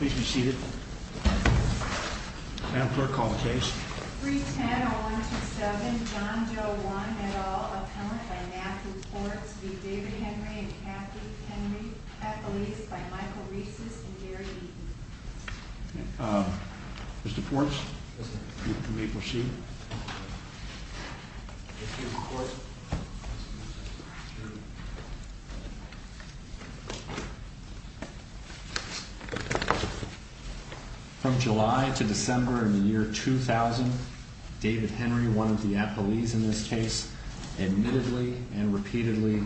310-0127 John Doe 1 and all, appellant by Matthew Ports v. David Henry and Kathleen Henry, appellees by Michael Reeces and Gary Beaton Mr. Ports, you may proceed. From July to December in the year 2000, David Henry, one of the appellees in this case, admittedly and repeatedly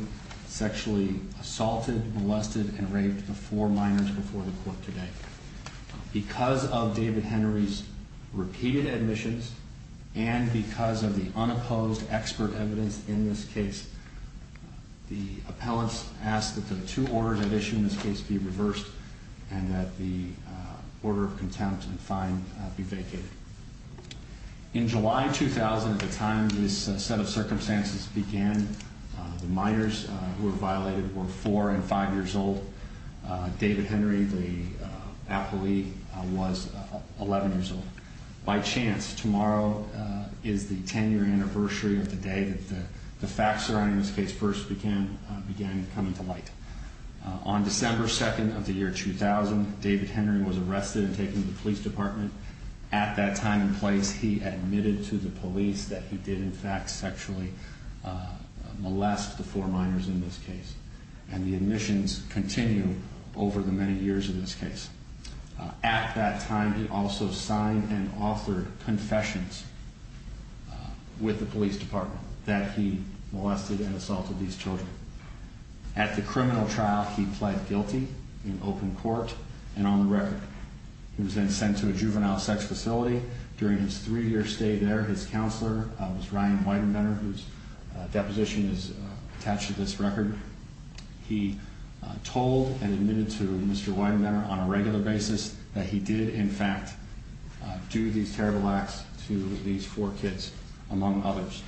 sexually assaulted, molested, and raped the four minors before the court today. Because of David Henry's repeated admissions and because of the unopposed expert evidence in this case, the appellants ask that the two orders at issue in this case be reversed and that the order of contempt and fine be vacated. In July 2000, at the time this set of circumstances began, the minors who were violated were four and five years old. David Henry, the appellee, was 11 years old. By chance, tomorrow is the 10-year anniversary of the day that the facts surrounding this case first began coming to light. On December 2nd of the year 2000, David Henry was arrested and taken to the police department At that time and place, he admitted to the police that he did, in fact, sexually molest the four minors in this case and the admissions continue over the many years of this case. At that time, he also signed and authored confessions with the police department that he molested and assaulted these children. At the criminal trial, he pled guilty in open court and on the record. He was then sent to a juvenile sex facility. During his three-year stay there, his counselor, Ryan Weidenbender, whose deposition is attached to this record, he told and admitted to Mr. Weidenbender on a regular basis that he did, in fact, do these terrible acts to these four kids, among others.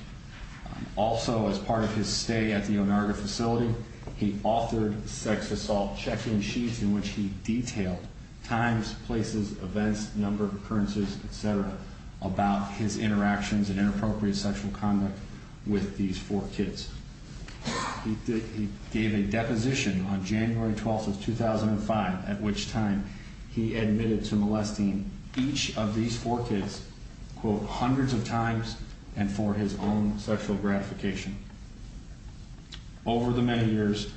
Also as part of his stay at the Onaga facility, he authored sex assault check-in sheets in which he detailed times, places, events, number of occurrences, etc. about his interactions and inappropriate sexual conduct with these four kids. He gave a deposition on January 12th of 2005 at which time he admitted to molesting each of these four kids, quote, hundreds of times and for his own sexual gratification. Over the many years,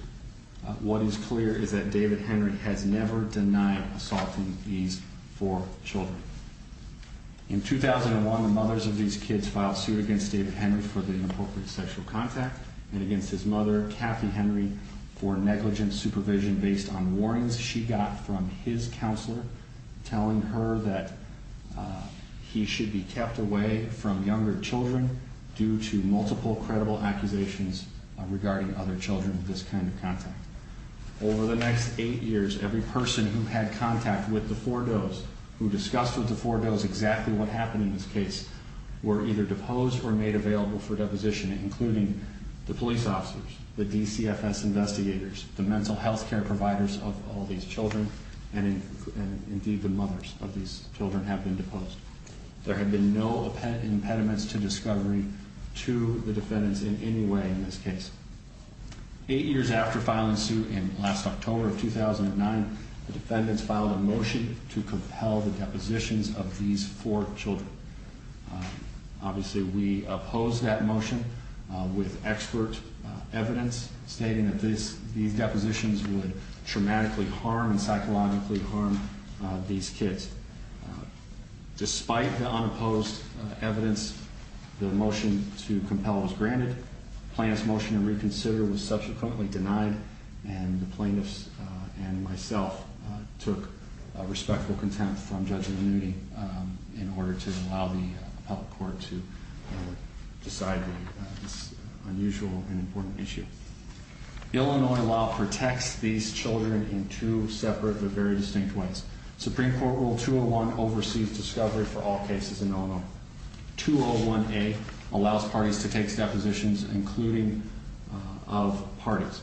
what is clear is that David Henry has never denied assaulting these four children. In 2001, the mothers of these kids filed suit against David Henry for the inappropriate sexual contact and against his mother, Kathy Henry, for negligent supervision based on warnings she got from his counselor telling her that he should be kept away from younger children due to multiple credible accusations regarding other children with this kind of contact. Over the next eight years, every person who had contact with the four does, who discussed with the four does exactly what happened in this case, were either deposed or made available for deposition, including the police officers, the DCFS investigators, the mental health care providers of all these children, and indeed the mothers of these children have been deposed. There have been no impediments to discovery to the defendants in any way in this case. Eight years after filing suit in last October of 2009, the defendants filed a motion to compel the depositions of these four children. Obviously, we opposed that motion with expert evidence stating that these depositions would dramatically harm and psychologically harm these kids. Despite the unopposed evidence, the motion to compel was granted, the plaintiff's motion to reconsider was subsequently denied, and the plaintiffs and myself took respectful contempt from Judge Manuti in order to allow the appellate court to decide this unusual and important issue. Illinois law protects these children in two separate but very distinct ways. Supreme Court Rule 201 oversees discovery for all cases in Illinois. 201A allows parties to take depositions, including of parties.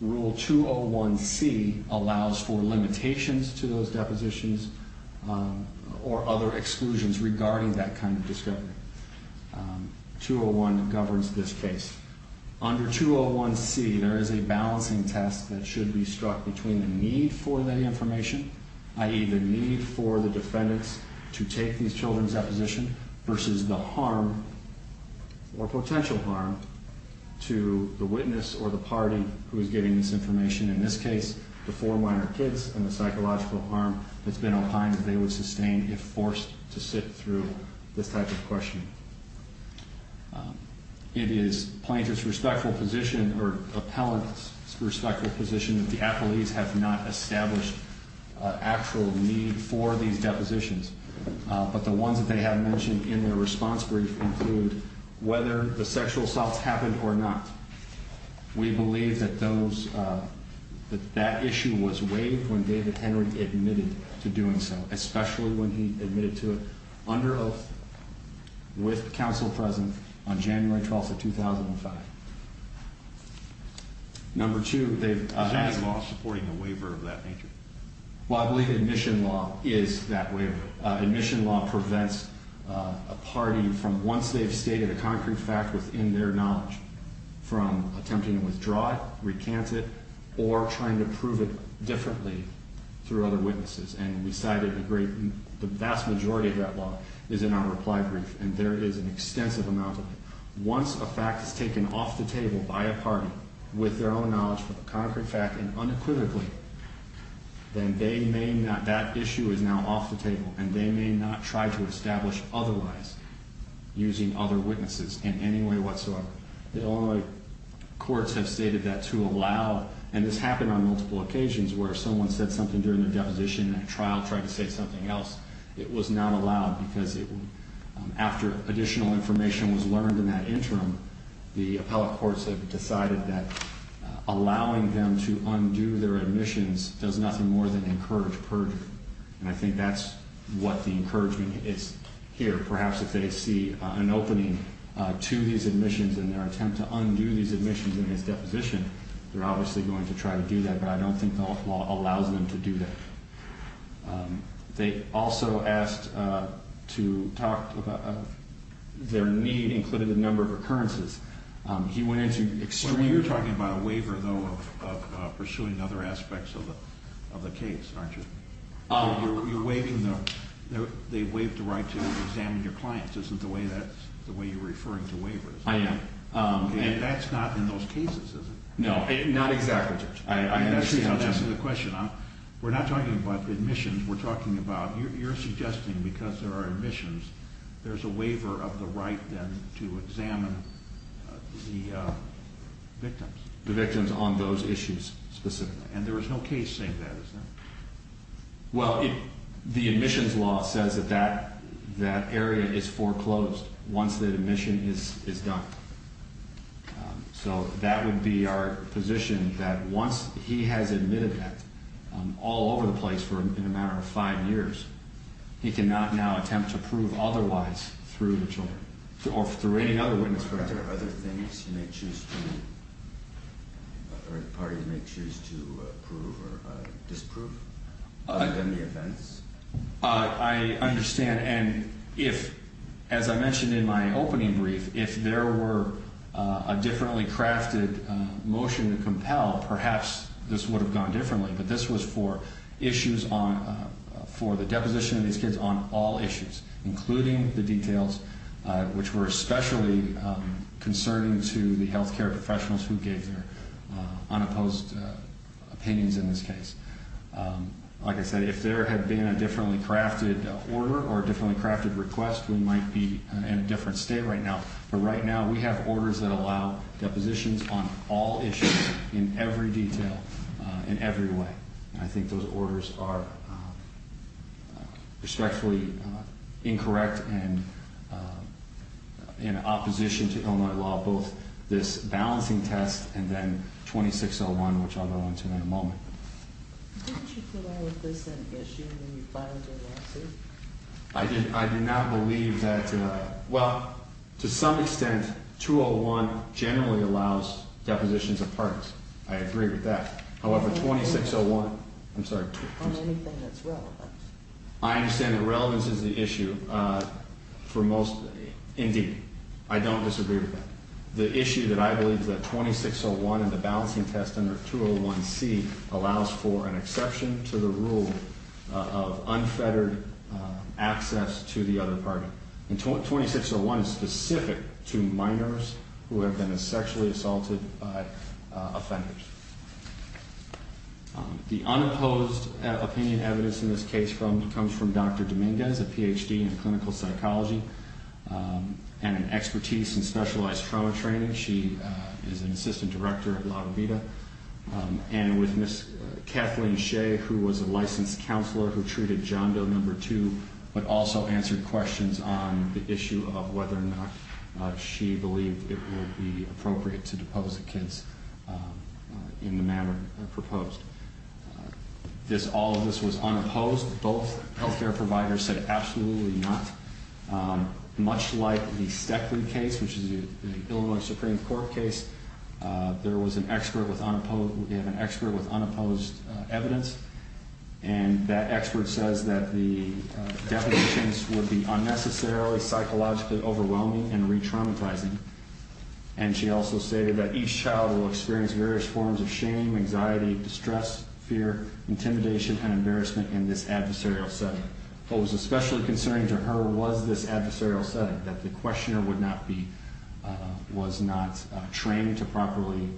Rule 201C allows for limitations to those depositions or other exclusions regarding that kind of discovery. 201 governs this case. Under 201C, there is a balancing test that should be struck between the need for the information, i.e. the need for the defendants to take these children's deposition versus the harm or potential harm to the witness or the party who is getting this information, in this case, the four minor kids, and the psychological harm that's been opined they would sustain if forced to sit through this type of questioning. It is the plaintiff's respectful position, or the appellant's respectful position, that the appellees have not established an actual need for these depositions, but the ones that they have mentioned in their response brief include whether the sexual assaults happened or not. We believe that that issue was waived when David Henry admitted to doing so, especially when he admitted to it under oath with counsel present on January 12th of 2005. Number two, they've... Is that law supporting a waiver of that nature? Well, I believe admission law is that waiver. Admission law prevents a party from, once they've stated a concrete fact within their knowledge, from attempting to withdraw it, recant it, or trying to prove it differently through other witnesses. And we cited a great... The vast majority of that law is in our reply brief, and there is an extensive amount of it. Once a fact is taken off the table by a party with their own knowledge of a concrete fact and unequivocally, then they may not... That issue is now off the table, and they may not try to establish otherwise using other witnesses in any way whatsoever. The Illinois courts have stated that to allow... And this happened on multiple occasions where someone said something during their deposition and at trial tried to say something else. It was not allowed because it... After additional information was learned in that interim, the appellate courts have decided that allowing them to undo their admissions does nothing more than encourage perjury. And I think that's what the encouragement is here. Perhaps if they see an opening to these admissions in their attempt to undo these admissions in his deposition, they're obviously going to try to do that, but I don't think the law allows them to do that. They also asked to talk about... Their need included a number of occurrences. He went into extreme... Well, you're talking about a waiver, though, of pursuing other aspects of the case, aren't you? Oh. You're waiving the... They waived the right to examine your clients. Isn't the way that's... The way you're referring to waivers. I am. And that's not in those cases, is it? No. Not exactly, Judge. I see how that's the question. We're not talking about admissions. We're talking about... You're suggesting because there are admissions, there's a waiver of the right then to examine the victims. The victims on those issues specifically. And there was no case saying that, is there? Well, the admissions law says that that area is foreclosed once that admission is done. So that would be our position, that once he has admitted that all over the place for in a matter of five years, he cannot now attempt to prove otherwise through the children or through any other witness. Are there other things you may choose to... Or the parties may choose to prove or disprove other than the events? I understand. And if, as I mentioned in my opening brief, if there were a differently crafted motion to compel, perhaps this would have gone differently. But this was for issues on... For the deposition of these kids on all issues, including the details which were especially concerning to the healthcare professionals who gave their unopposed opinions in this case. Like I said, if there had been a differently crafted order or a differently crafted request, we might be in a different state right now. But right now we have orders that allow depositions on all issues in every detail, in every way. I think those orders are respectfully incorrect and in opposition to Illinois law, both this Didn't you put all of this in issue when you filed your lawsuit? I did not believe that... Well, to some extent, 201 generally allows depositions of parties. I agree with that. However, 2601... On anything that's relevant. I understand that relevance is the issue for most... Indeed. I don't disagree with that. The issue that I believe that 2601 and the balancing test under 201C allows for an exception to the rule of unfettered access to the other party. And 2601 is specific to minors who have been sexually assaulted by offenders. The unopposed opinion evidence in this case comes from Dr. Dominguez, a PhD in clinical psychology and an expertise in specialized trauma training. She is an assistant director at La Vida. And with Ms. Kathleen Shea, who was a licensed counselor who treated John Doe No. 2, but also answered questions on the issue of whether or not she believed it would be appropriate to depose the kids in the manner proposed. All of this was unopposed. Both health care providers said absolutely not. Much like the Steckley case, which is the Illinois Supreme Court case, there was an expert with unopposed evidence. And that expert says that the depositions would be unnecessarily psychologically overwhelming and re-traumatizing. And she also stated that each child will experience various forms of shame, anxiety, distress, fear, intimidation, and embarrassment in this adversarial setting. What was especially concerning to her was this adversarial setting, that the questioner would not be, was not trained to properly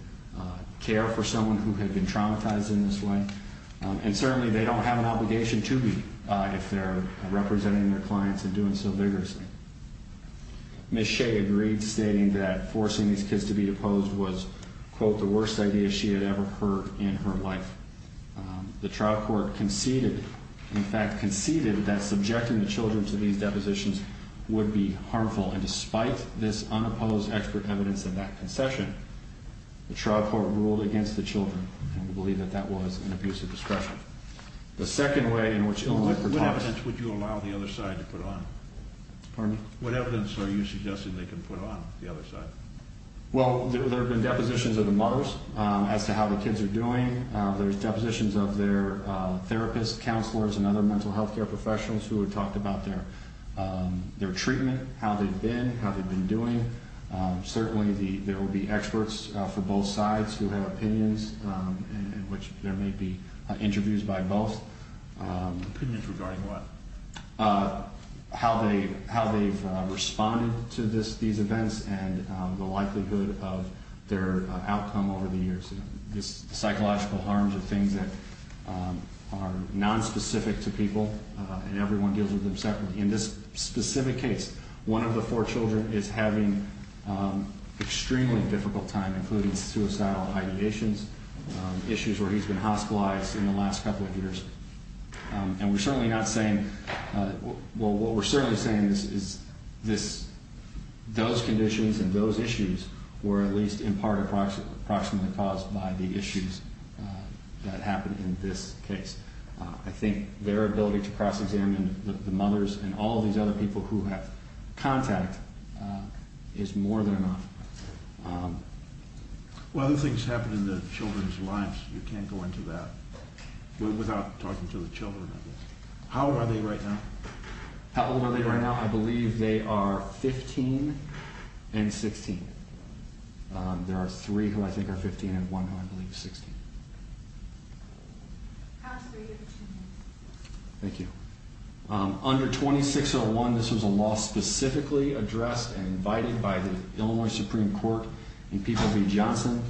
care for someone who had been traumatized in this way. And certainly they don't have an obligation to be, if they're representing their clients and doing so vigorously. Ms. Shea agreed, stating that forcing these kids to be deposed was, quote, the worst idea she had ever heard in her life. The trial court conceded, in fact, conceded that subjecting the children to these depositions would be harmful. And despite this unopposed expert evidence of that concession, the trial court ruled against the children and would believe that that was an abuse of discretion. The second way in which Illinois protects... What evidence would you allow the other side to put on? Pardon me? What evidence are you suggesting they can put on the other side? Well, there have been depositions of the mothers as to how the kids are doing. There's depositions of their therapists, counselors, and other mental health care professionals who have talked about their treatment, how they've been, how they've been doing. Certainly there will be experts for both sides who have opinions, in which there may be interviews by both. Opinions regarding what? How they've responded to these events and the likelihood of their outcome over the years. Psychological harms are things that are nonspecific to people, and everyone deals with them separately. In this specific case, one of the four children is having an extremely difficult time, including suicidal ideations, issues where he's been hospitalized in the last couple of years. And we're certainly not saying... Well, what we're certainly saying is those conditions and those issues were at least in part approximately caused by the issues that happened in this case. I think their ability to cross-examine the mothers and all these other people who have contact is more than enough. Well, other things happen in the children's lives. You can't go into that. Without talking to the children, I guess. How old are they right now? How old are they right now? I believe they are 15 and 16. There are three who I think are 15 and one who I believe is 16. How old are three of the children? Thank you. Under 2601, this was a law specifically addressed and invited by the Illinois Supreme Court and People v. Johnson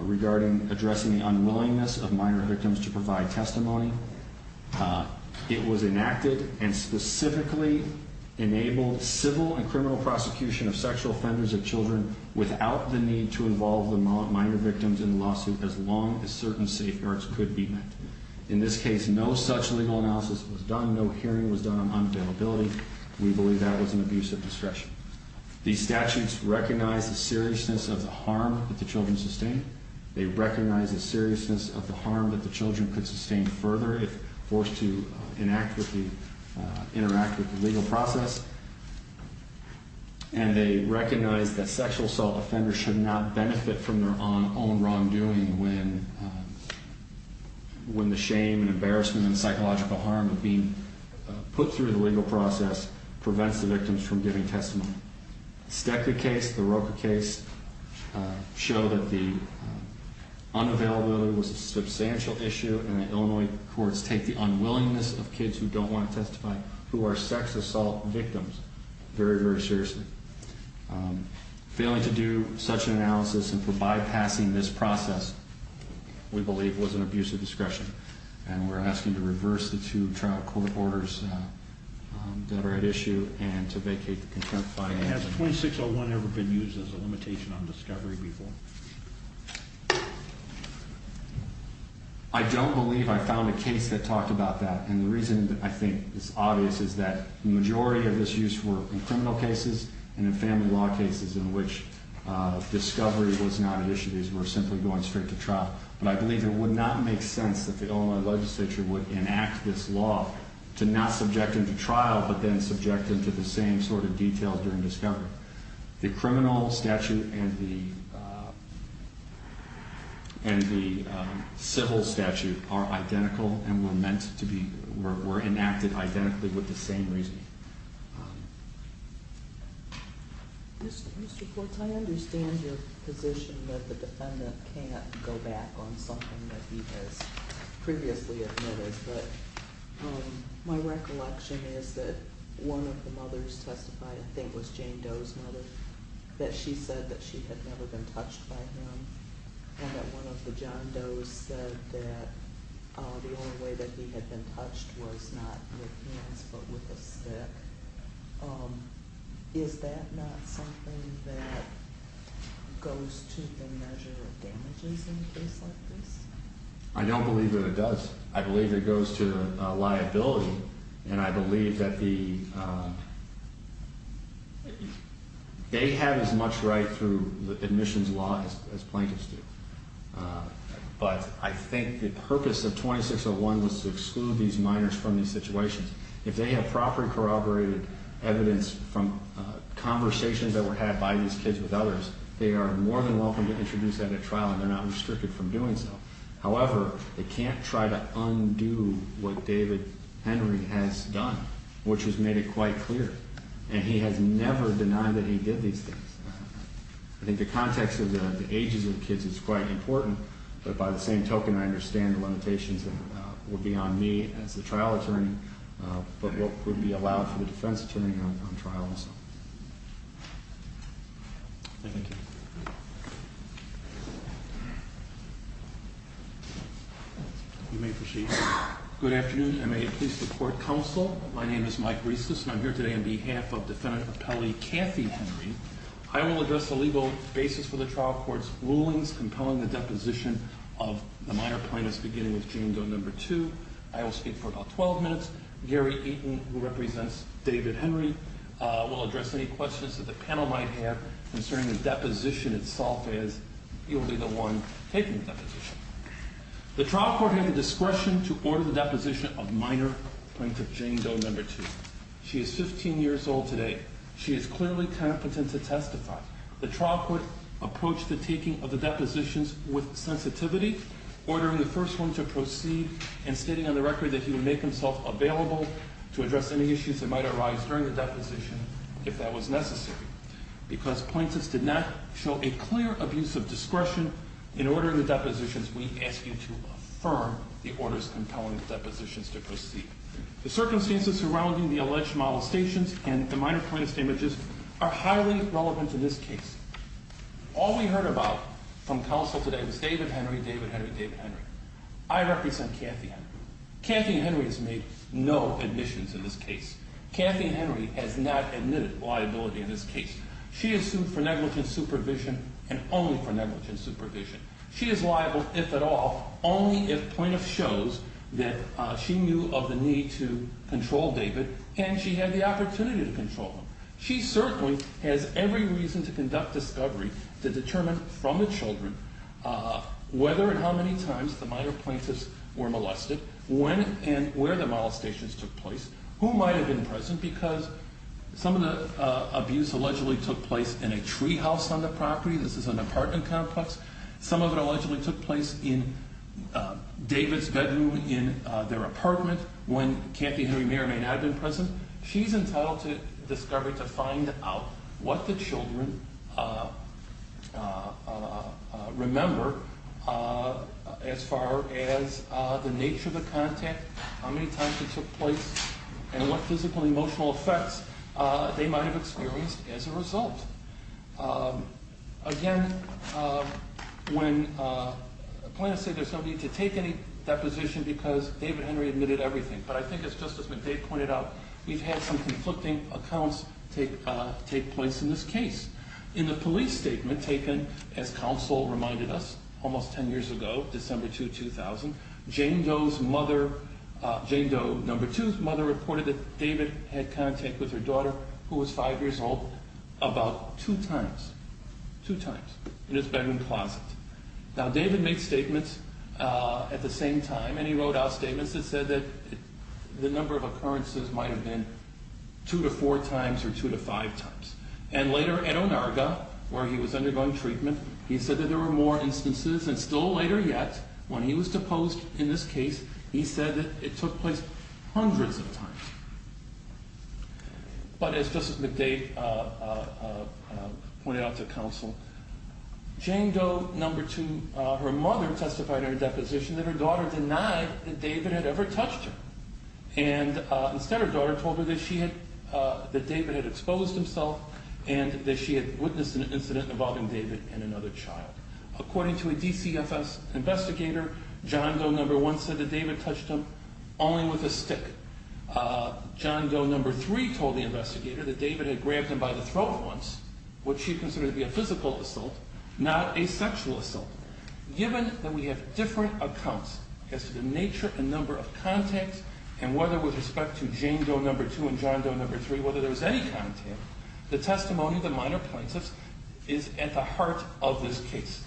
regarding addressing the unwillingness of minor victims to provide testimony. It was enacted and specifically enabled civil and criminal prosecution of sexual offenders of children without the need to involve the minor victims in the lawsuit as long as certain safeguards could be met. In this case, no such legal analysis was done. No hearing was done on unavailability. We believe that was an abuse of discretion. These statutes recognize the seriousness of the harm that the children sustain. They recognize the seriousness of the harm that the children could sustain further if forced to interact with the legal process. And they recognize that sexual assault offenders should not benefit from their own wrongdoing when the shame and embarrassment and psychological harm of being put through the legal process prevents the victims from giving testimony. The Stekler case, the Roka case, show that the unavailability was a substantial issue and that Illinois courts take the unwillingness of kids who don't want to testify who are sex assault victims very, very seriously. Failing to do such an analysis and for bypassing this process, we believe, was an abuse of discretion. And we're asking to reverse the two trial court orders that were at issue and to vacate the contempt file. Has 2601 ever been used as a limitation on discovery before? I don't believe I found a case that talked about that. And the reason I think it's obvious is that the majority of this use were in criminal cases and in family law cases in which discovery was not an issue. These were simply going straight to trial. But I believe it would not make sense that the Illinois legislature would enact this law to not subject it to trial but then subject it to the same sort of detail during discovery. The criminal statute and the civil statute are identical and were enacted identically with the same reasoning. Mr. Quartz, I understand your position that the defendant can't go back on something that he has previously admitted, but my recollection is that one of the mothers testified, I think it was Jane Doe's mother, that she said that she had never been touched by him and that one of the John Doe's said that the only way that he had been touched was not with hands but with a stick. Is that not something that goes to the measure of damages in a case like this? I don't believe that it does. I believe it goes to liability and I believe that they have as much right through the admissions law as plaintiffs do. But I think the purpose of 2601 was to exclude these minors from these situations. If they have properly corroborated evidence from conversations that were had by these kids with others, they are more than welcome to introduce that at trial and they're not restricted from doing so. However, they can't try to undo what David Henry has done, which has made it quite clear. And he has never denied that he did these things. I think the context of the ages of the kids is quite important. But by the same token, I understand the limitations that would be on me as a trial attorney but what would be allowed for the defense attorney on trials. Thank you. You may proceed. Good afternoon. I'm a police report counsel. My name is Mike Reissus and I'm here today on behalf of Defendant Appellee Kathy Henry. I will address the legal basis for the trial court's rulings compelling the deposition of the minor plaintiffs beginning with Jane Doe No. 2. I will speak for about 12 minutes. Gary Eaton, who represents David Henry, will address any questions that the panel might have concerning the deposition itself as he will be the one taking the deposition. The trial court had the discretion to order the deposition of minor plaintiff Jane Doe No. 2. She is 15 years old today. She is clearly competent to testify. The trial court approached the taking of the depositions with sensitivity, ordering the first one to proceed and stating on the record that he would make himself available to address any issues that might arise during the deposition if that was necessary. Because plaintiffs did not show a clear abuse of discretion in ordering the depositions, we ask you to affirm the orders compelling the depositions to proceed. The circumstances surrounding the alleged molestations and the minor plaintiffs' damages are highly relevant to this case. All we heard about from counsel today was David Henry, David Henry, David Henry. I represent Kathy Henry. Kathy Henry has made no admissions in this case. Kathy Henry has not admitted liability in this case. She is sued for negligent supervision and only for negligent supervision. She is liable if at all, only if plaintiff shows that she knew of the need to control David and she had the opportunity to control him. She certainly has every reason to conduct discovery to determine from the children whether and how many times the minor plaintiffs were molested, when and where the molestations took place, who might have been present because some of the abuse allegedly took place in a tree house on the property. This is an apartment complex. Some of it allegedly took place in David's bedroom in their apartment when Kathy Henry may or may not have been present. She's entitled to discovery to find out what the children remember as far as the nature of the contact, how many times it took place and what physical and emotional effects they might have experienced as a result. Again, when plaintiffs say there's no need to take any deposition because David Henry admitted everything, but I think as Justice McDade pointed out, we've had some conflicting accounts take place in this case. In the police statement taken, as counsel reminded us, almost ten years ago, December 2, 2000, Jane Doe's mother, Jane Doe, number two's mother, reported that David had contact with her daughter, who was five years old, about two times, two times, in his bedroom closet. Now, David made statements at the same time, and he wrote out statements that said that the number of occurrences might have been two to four times or two to five times. And later, at Onaga, where he was undergoing treatment, he said that there were more instances, and still later yet, when he was deposed in this case, he said that it took place hundreds of times. But as Justice McDade pointed out to counsel, Jane Doe, number two, her mother testified in her deposition that her daughter denied that David had ever touched her. And instead, her daughter told her that David had exposed himself and that she had witnessed an incident involving David and another child. According to a DCFS investigator, John Doe, number one, said that David touched him only with a stick. John Doe, number three, told the investigator that David had grabbed him by the throat once, what she considered to be a physical assault, not a sexual assault. Given that we have different accounts as to the nature and number of contacts, and whether with respect to Jane Doe, number two, and John Doe, number three, whether there was any contact, the testimony of the minor plaintiffs is at the heart of this case.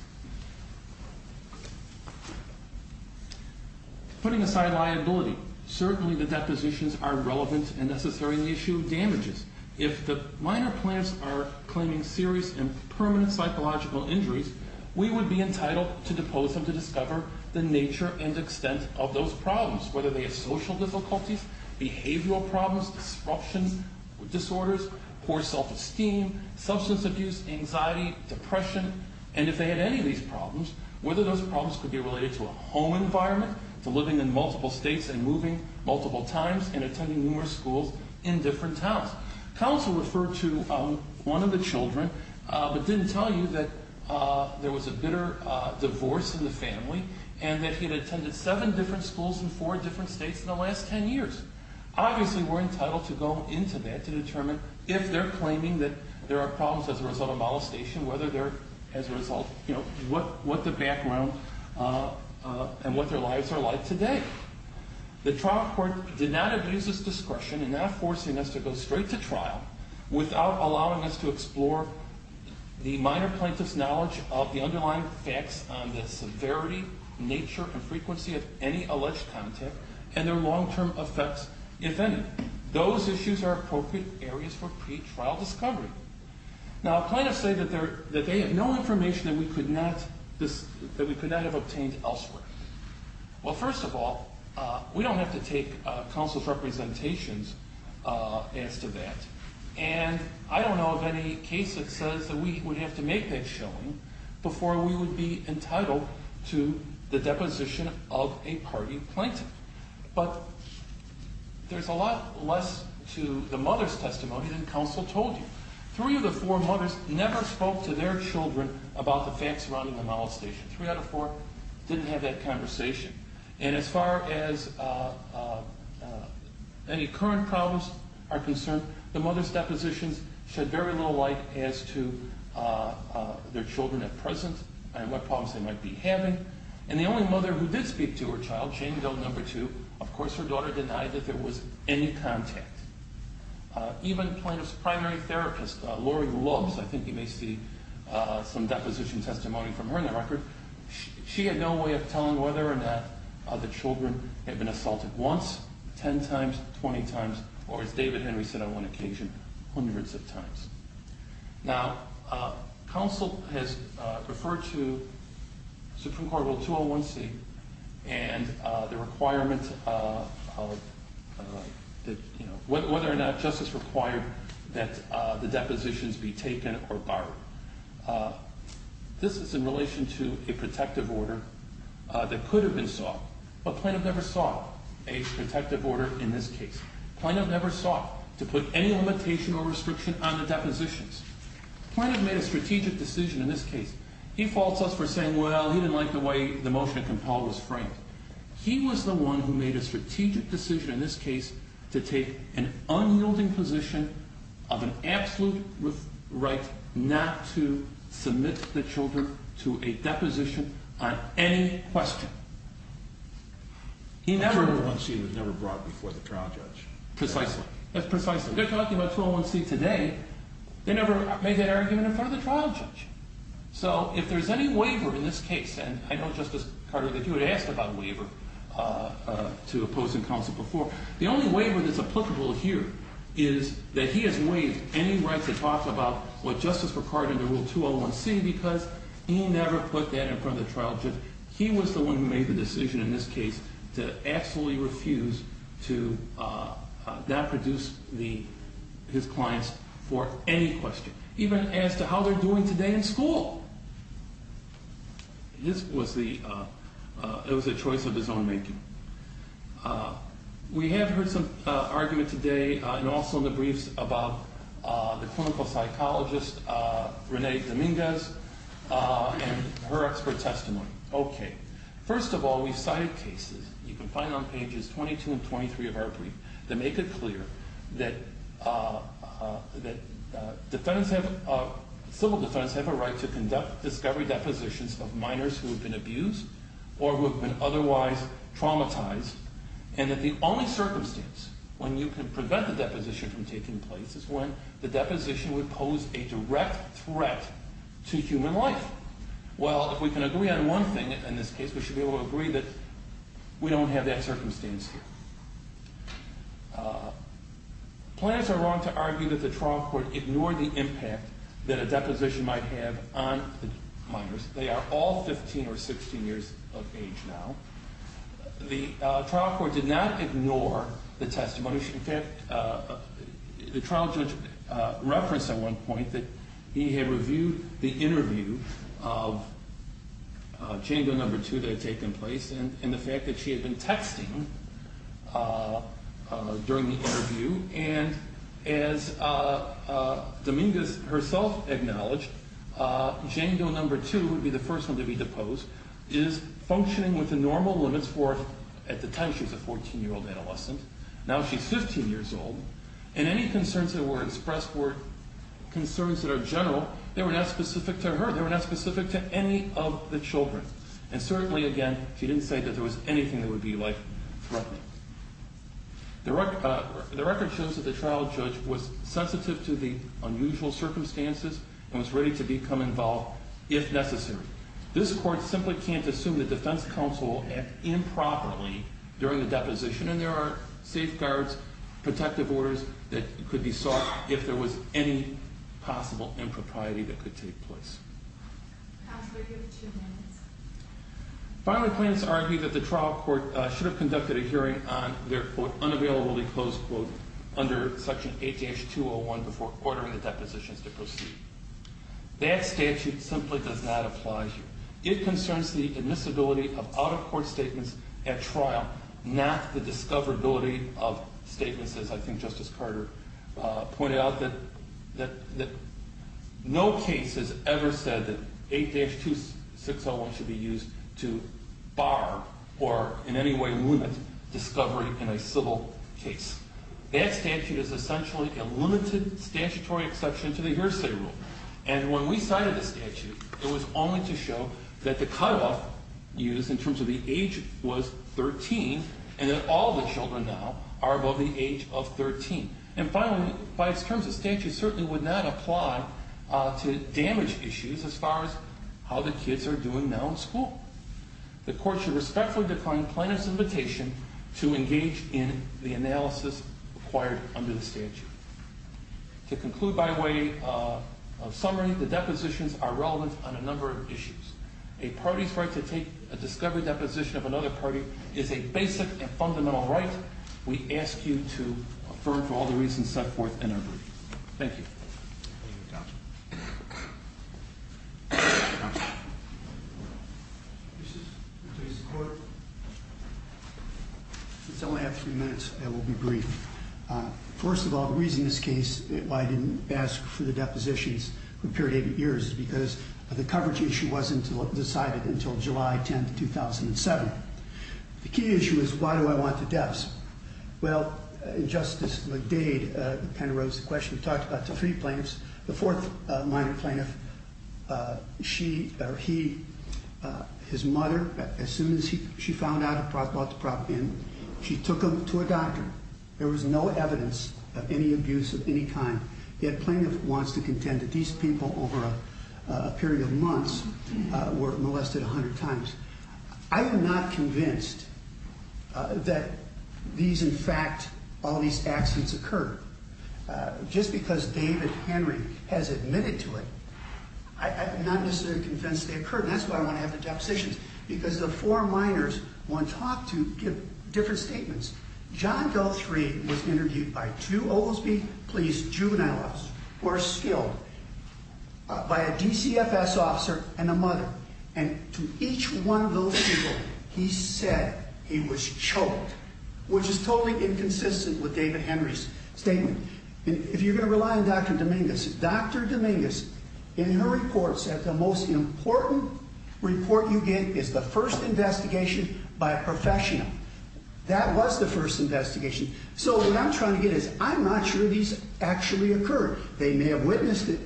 Putting aside liability, certainly the depositions are relevant and necessarily issue damages. If the minor plaintiffs are claiming serious and permanent psychological injuries, we would be entitled to depose them to discover the nature and extent of those problems, whether they are social difficulties, behavioral problems, disruption disorders, poor self-esteem, substance abuse, anxiety, depression. And if they had any of these problems, whether those problems could be related to a home environment, to living in multiple states and moving multiple times and attending numerous schools in different towns. Counsel referred to one of the children, but didn't tell you that there was a bitter divorce in the family and that he had attended seven different schools in four different states in the last ten years. Obviously, we're entitled to go into that to determine if they're claiming that there are problems as a result of molestation, what the background and what their lives are like today. The trial court did not abuse its discretion in not forcing us to go straight to trial without allowing us to explore the minor plaintiff's knowledge of the underlying facts on the severity, nature, and frequency of any alleged contact and their long-term effects, if any. Those issues are appropriate areas for pre-trial discovery. Now, plaintiffs say that they have no information that we could not have obtained elsewhere. Well, first of all, we don't have to take counsel's representations as to that. And I don't know of any case that says that we would have to make that showing before we would be entitled to the deposition of a party plaintiff. But there's a lot less to the mother's testimony than counsel told you. Three of the four mothers never spoke to their children about the facts surrounding the molestation. Three out of four didn't have that conversation. And as far as any current problems are concerned, the mother's depositions shed very little light as to their children at present and what problems they might be having. And the only mother who did speak to her child, Jane Doe No. 2, of course her daughter denied that there was any contact. Even plaintiff's primary therapist, Laurie Loves, I think you may see some deposition testimony from her in the record, she had no way of telling whether or not the children had been assaulted once, 10 times, 20 times, or as David Henry said on one occasion, hundreds of times. Now, counsel has referred to Supreme Court Rule 201C and the requirement of whether or not justice required that the depositions be taken or borrowed. This is in relation to a protective order that could have been sought, but plaintiff never sought a protective order in this case. Plaintiff never sought to put any limitation or restriction on the depositions. Plaintiff made a strategic decision in this case. He faults us for saying, well, he didn't like the way the motion of compel was framed. He was the one who made a strategic decision in this case to take an unyielding position of an absolute right not to submit the children to a deposition on any question. Rule 201C was never brought before the trial judge. Precisely. Precisely. They're talking about 201C today. They never made that argument in front of the trial judge. So if there's any waiver in this case, and I know Justice Carter that you had asked about a waiver to opposing counsel before, the only waiver that's applicable here is that he has waived any right to talk about what justice required under Rule 201C because he never put that in front of the trial judge. He was the one who made the decision in this case to absolutely refuse to not produce his clients for any question, even as to how they're doing today in school. This was the choice of his own making. We have heard some argument today and also in the briefs about the clinical psychologist, Renee Dominguez, and her expert testimony. Okay. First of all, we've cited cases. You can find them on pages 22 and 23 of our brief. They make it clear that civil defendants have a right to conduct discovery depositions of minors who have been abused or who have been otherwise traumatized and that the only circumstance when you can prevent the deposition from taking place is when the deposition would pose a direct threat to human life. Well, if we can agree on one thing in this case, we should be able to agree that we don't have that circumstance here. Plaintiffs are wrong to argue that the trial court ignored the impact that a deposition might have on minors. They are all 15 or 16 years of age now. The trial court did not ignore the testimony. In fact, the trial judge referenced at one point that he had reviewed the interview of Jane Doe No. 2 that had taken place and the fact that she had been texting during the interview. And as Dominguez herself acknowledged, Jane Doe No. 2 would be the first one to be deposed, is functioning within normal limits for, at the time she was a 14-year-old adolescent. Now she's 15 years old. And any concerns that were expressed were concerns that are general. They were not specific to her. They were not specific to any of the children. And certainly, again, she didn't say that there was anything that would be life-threatening. The record shows that the trial judge was sensitive to the unusual circumstances and was ready to become involved if necessary. This court simply can't assume the defense counsel will act improperly during the deposition and there are safeguards, protective orders that could be sought if there was any possible impropriety that could take place. Counselor, you have two minutes. Filing plaintiffs argue that the trial court should have conducted a hearing on their quote, unavailably closed quote under Section H.H. 201 before ordering the depositions to proceed. That statute simply does not apply here. It concerns the admissibility of out-of-court statements at trial, not the discoverability of statements, as I think Justice Carter pointed out, that no case has ever said that 8-2601 should be used to bar or in any way limit discovery in a civil case. That statute is essentially a limited statutory exception to the hearsay rule. And when we cited the statute, it was only to show that the cutoff used in terms of the age was 13 and that all the children now are above the age of 13. And finally, by its terms, the statute certainly would not apply to damage issues as far as how the kids are doing now in school. The court should respectfully decline plaintiff's invitation to engage in the analysis required under the statute. To conclude by way of summary, the depositions are relevant on a number of issues. A party's right to take a discovery deposition of another party is a basic and fundamental right. We ask you to affirm for all the reasons set forth in our brief. Thank you. Thank you, Counselor. Counselor. Mr. Chief Justice of the Court, since I only have three minutes, I will be brief. First of all, the reason this case, why I didn't ask for the depositions for a period of years is because the coverage issue wasn't decided until July 10, 2007. The key issue is why do I want the deaths? Well, Justice McDade kind of raised the question. He talked about the three plaintiffs. The fourth minor plaintiff, she or he, his mother, as soon as she found out about the problem, she took him to a doctor. There was no evidence of any abuse of any kind. Yet plaintiff wants to contend that these people over a period of months were molested 100 times. I am not convinced that these, in fact, all these accidents occurred. Just because David Henry has admitted to it, I'm not necessarily convinced they occurred. That's why I want to have the depositions. Because the four minors want to talk to, give different statements. John Daltry was interviewed by two Oglesby Police juvenile officers who are skilled, by a DCFS officer and a mother. And to each one of those people, he said he was choked, which is totally inconsistent with David Henry's statement. If you're going to rely on Dr. Dominguez, Dr. Dominguez in her report said the most important report you get is the first investigation by a professional. That was the first investigation. So what I'm trying to get at is I'm not sure these actually occurred. They may have witnessed it,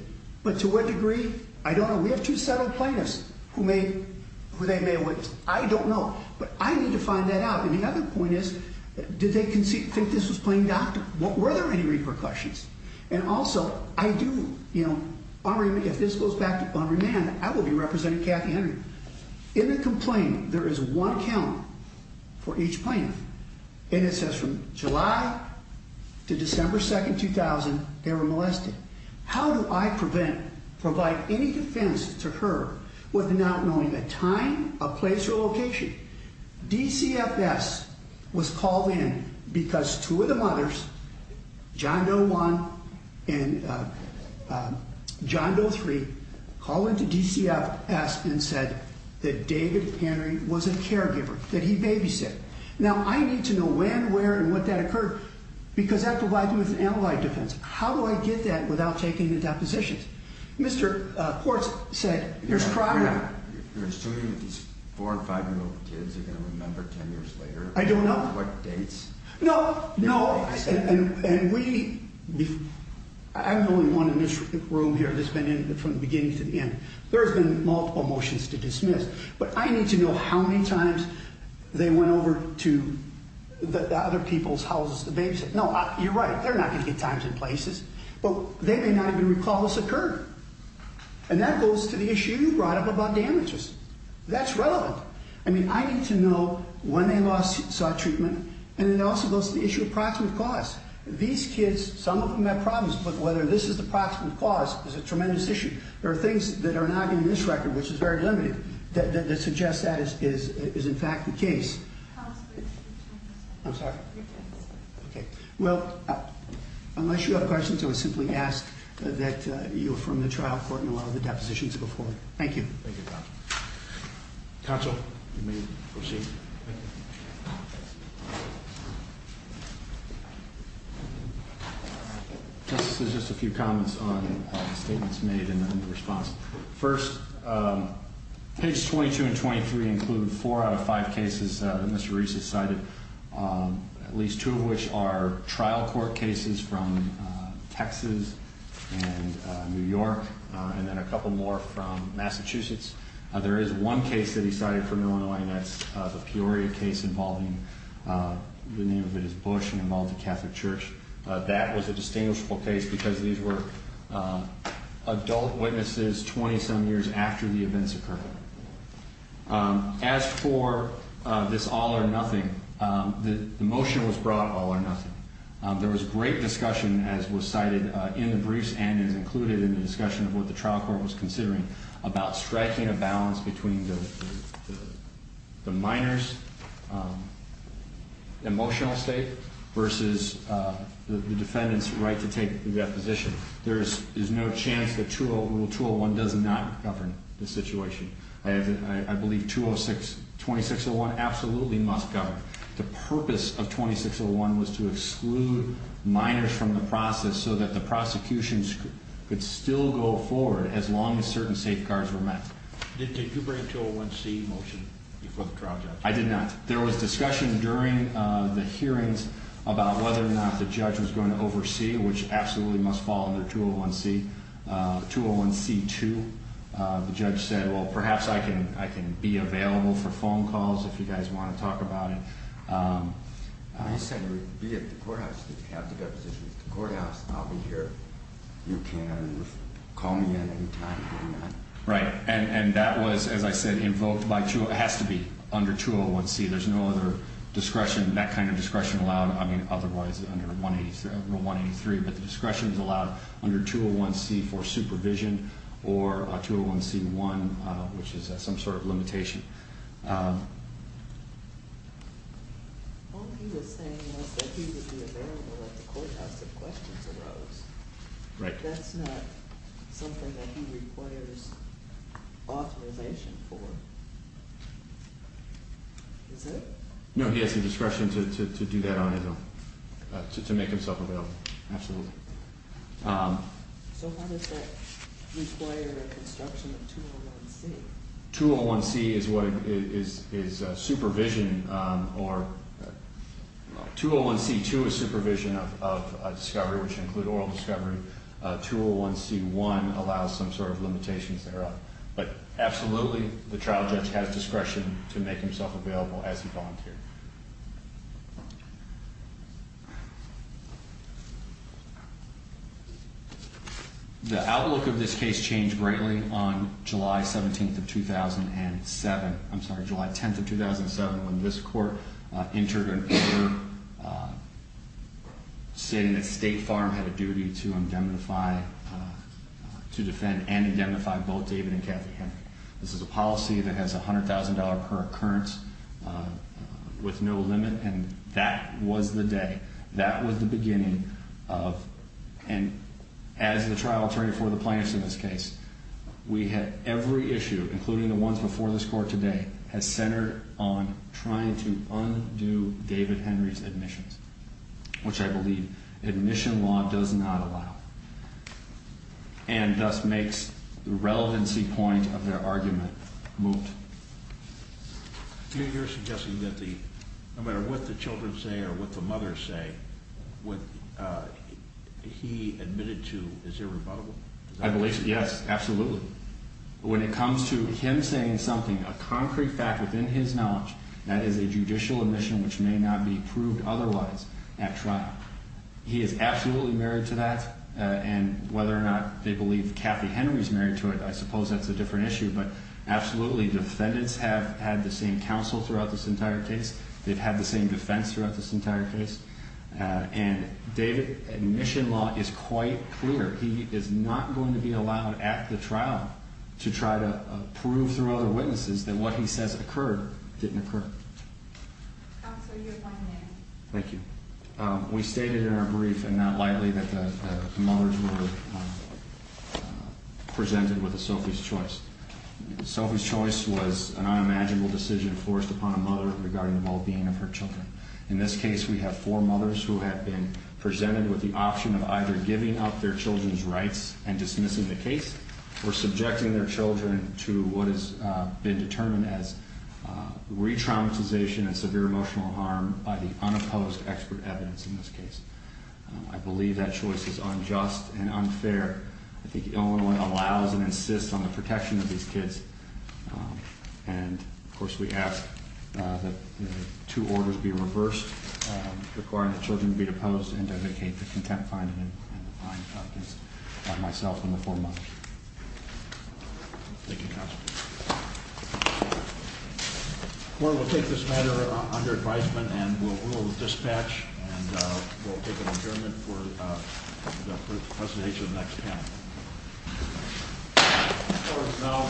but to what degree? I don't know. We have two settled plaintiffs who they may have witnessed. I don't know. But I need to find that out. And the other point is, did they think this was plain doctor? Were there any repercussions? And also, I do, you know, if this goes back to Henry Mann, I will be representing Kathy Henry. In the complaint, there is one count for each plaintiff. And it says from July to December 2, 2000, they were molested. How do I prevent, provide any defense to her with not knowing a time, a place, or a location? DCFS was called in because two of the mothers, John No. 1 and John No. 3, called into DCFS and said that David Henry was a caregiver, that he babysat. Now, I need to know when, where, and what that occurred because that provides me with an analyte defense. How do I get that without taking the depositions? Mr. Quartz said there's crime. You're assuming that these 4- and 5-year-old kids are going to remember 10 years later? I don't know. What dates? No, no. And we, I'm the only one in this room here that's been in from the beginning to the end. There's been multiple motions to dismiss. But I need to know how many times they went over to the other people's houses to babysit. No, you're right. They're not going to get times and places. But they may not even recall this occurred. And that goes to the issue you brought up about damages. That's relevant. I mean, I need to know when they lost, saw treatment. And it also goes to the issue of proximate cause. These kids, some of them have problems, but whether this is the proximate cause is a tremendous issue. There are things that are not in this record, which is very limited, that suggest that is in fact the case. Counselor. I'm sorry. Okay. Well, unless you have questions, I would simply ask that you affirm the trial court and allow the depositions to go forward. Thank you. Thank you, counsel. Counsel, you may proceed. Justice, there's just a few comments on statements made in response. First, pages 22 and 23 include four out of five cases that Mr. Reese has cited, at least two of which are trial court cases from Texas and New York, and then a couple more from Massachusetts. There is one case that he cited from Illinois, and that's the Peoria case involving, the name of it is Bush, and involved a Catholic church. That was a distinguishable case because these were adult witnesses 20-some years after the events occurred. As for this all or nothing, the motion was brought all or nothing. There was great discussion, as was cited in the briefs and is included in the discussion of what the trial court was considering, about striking a balance between the minor's emotional state versus the defendant's right to take the deposition. There is no chance that Rule 201 does not govern the situation. I believe 2601 absolutely must govern. The purpose of 2601 was to exclude minors from the process so that the prosecution could still go forward as long as certain safeguards were met. Did you bring a 201C motion before the trial judge? I did not. There was discussion during the hearings about whether or not the judge was going to oversee, which absolutely must fall under 201C. 201C2, the judge said, well, perhaps I can be available for phone calls if you guys want to talk about it. I said, be at the courthouse. If you have the deposition at the courthouse, I'll be here. You can call me at any time. Right. And that was, as I said, invoked by 201C. It has to be under 201C. There's no other discretion, that kind of discretion, allowed otherwise under 183. But the discretion is allowed under 201C for supervision or 201C1, which is some sort of limitation. All he was saying was that he would be available at the courthouse if questions arose. Right. That's not something that he requires authorization for, is it? No, he has the discretion to do that on his own, to make himself available. Absolutely. So how does that require a construction of 201C? 201C is what is supervision or 201C2 is supervision of discovery, which include oral discovery. 201C1 allows some sort of limitations thereof. But absolutely, the trial judge has discretion to make himself available as he volunteered. Thank you. The outlook of this case changed greatly on July 17th of 2007. I'm sorry, July 10th of 2007, when this court entered an order saying that State Farm had a duty to indemnify, to defend and indemnify both David and Kathy Henry. This is a policy that has $100,000 per occurrence with no limit, and that was the day. That was the beginning of, and as the trial attorney for the plaintiffs in this case, we had every issue, including the ones before this court today, has centered on trying to undo David Henry's admissions, which I believe admission law does not allow, and thus makes the relevancy point of their argument moved. You're suggesting that no matter what the children say or what the mothers say, what he admitted to is irrebuttable? I believe so, yes, absolutely. When it comes to him saying something, a concrete fact within his knowledge, that is a judicial admission which may not be proved otherwise at trial, he is absolutely married to that, and whether or not they believe Kathy Henry's married to it, I suppose that's a different issue, but absolutely defendants have had the same counsel throughout this entire case. They've had the same defense throughout this entire case, and David admission law is quite clear. He is not going to be allowed at the trial to try to prove through other witnesses that what he says occurred didn't occur. Counsel, you're fine there. Thank you. We stated in our brief and not lightly that the mothers were presented with a Sophie's choice. Sophie's choice was an unimaginable decision forced upon a mother regarding the well-being of her children. In this case, we have four mothers who have been presented with the option of either giving up their children's rights and dismissing the case or subjecting their children to what has been determined as re-traumatization and severe emotional harm by the unopposed expert evidence in this case. I believe that choice is unjust and unfair. I think Illinois allows and insists on the protection of these kids, and, of course, we ask that two orders be reversed requiring that children be deposed and dedicate the contempt finding and the fine of this by myself and the four mothers. Thank you, counsel. The court will take this matter under advisement, and we'll dispatch, and we'll take an adjournment for the presentation of the next panel.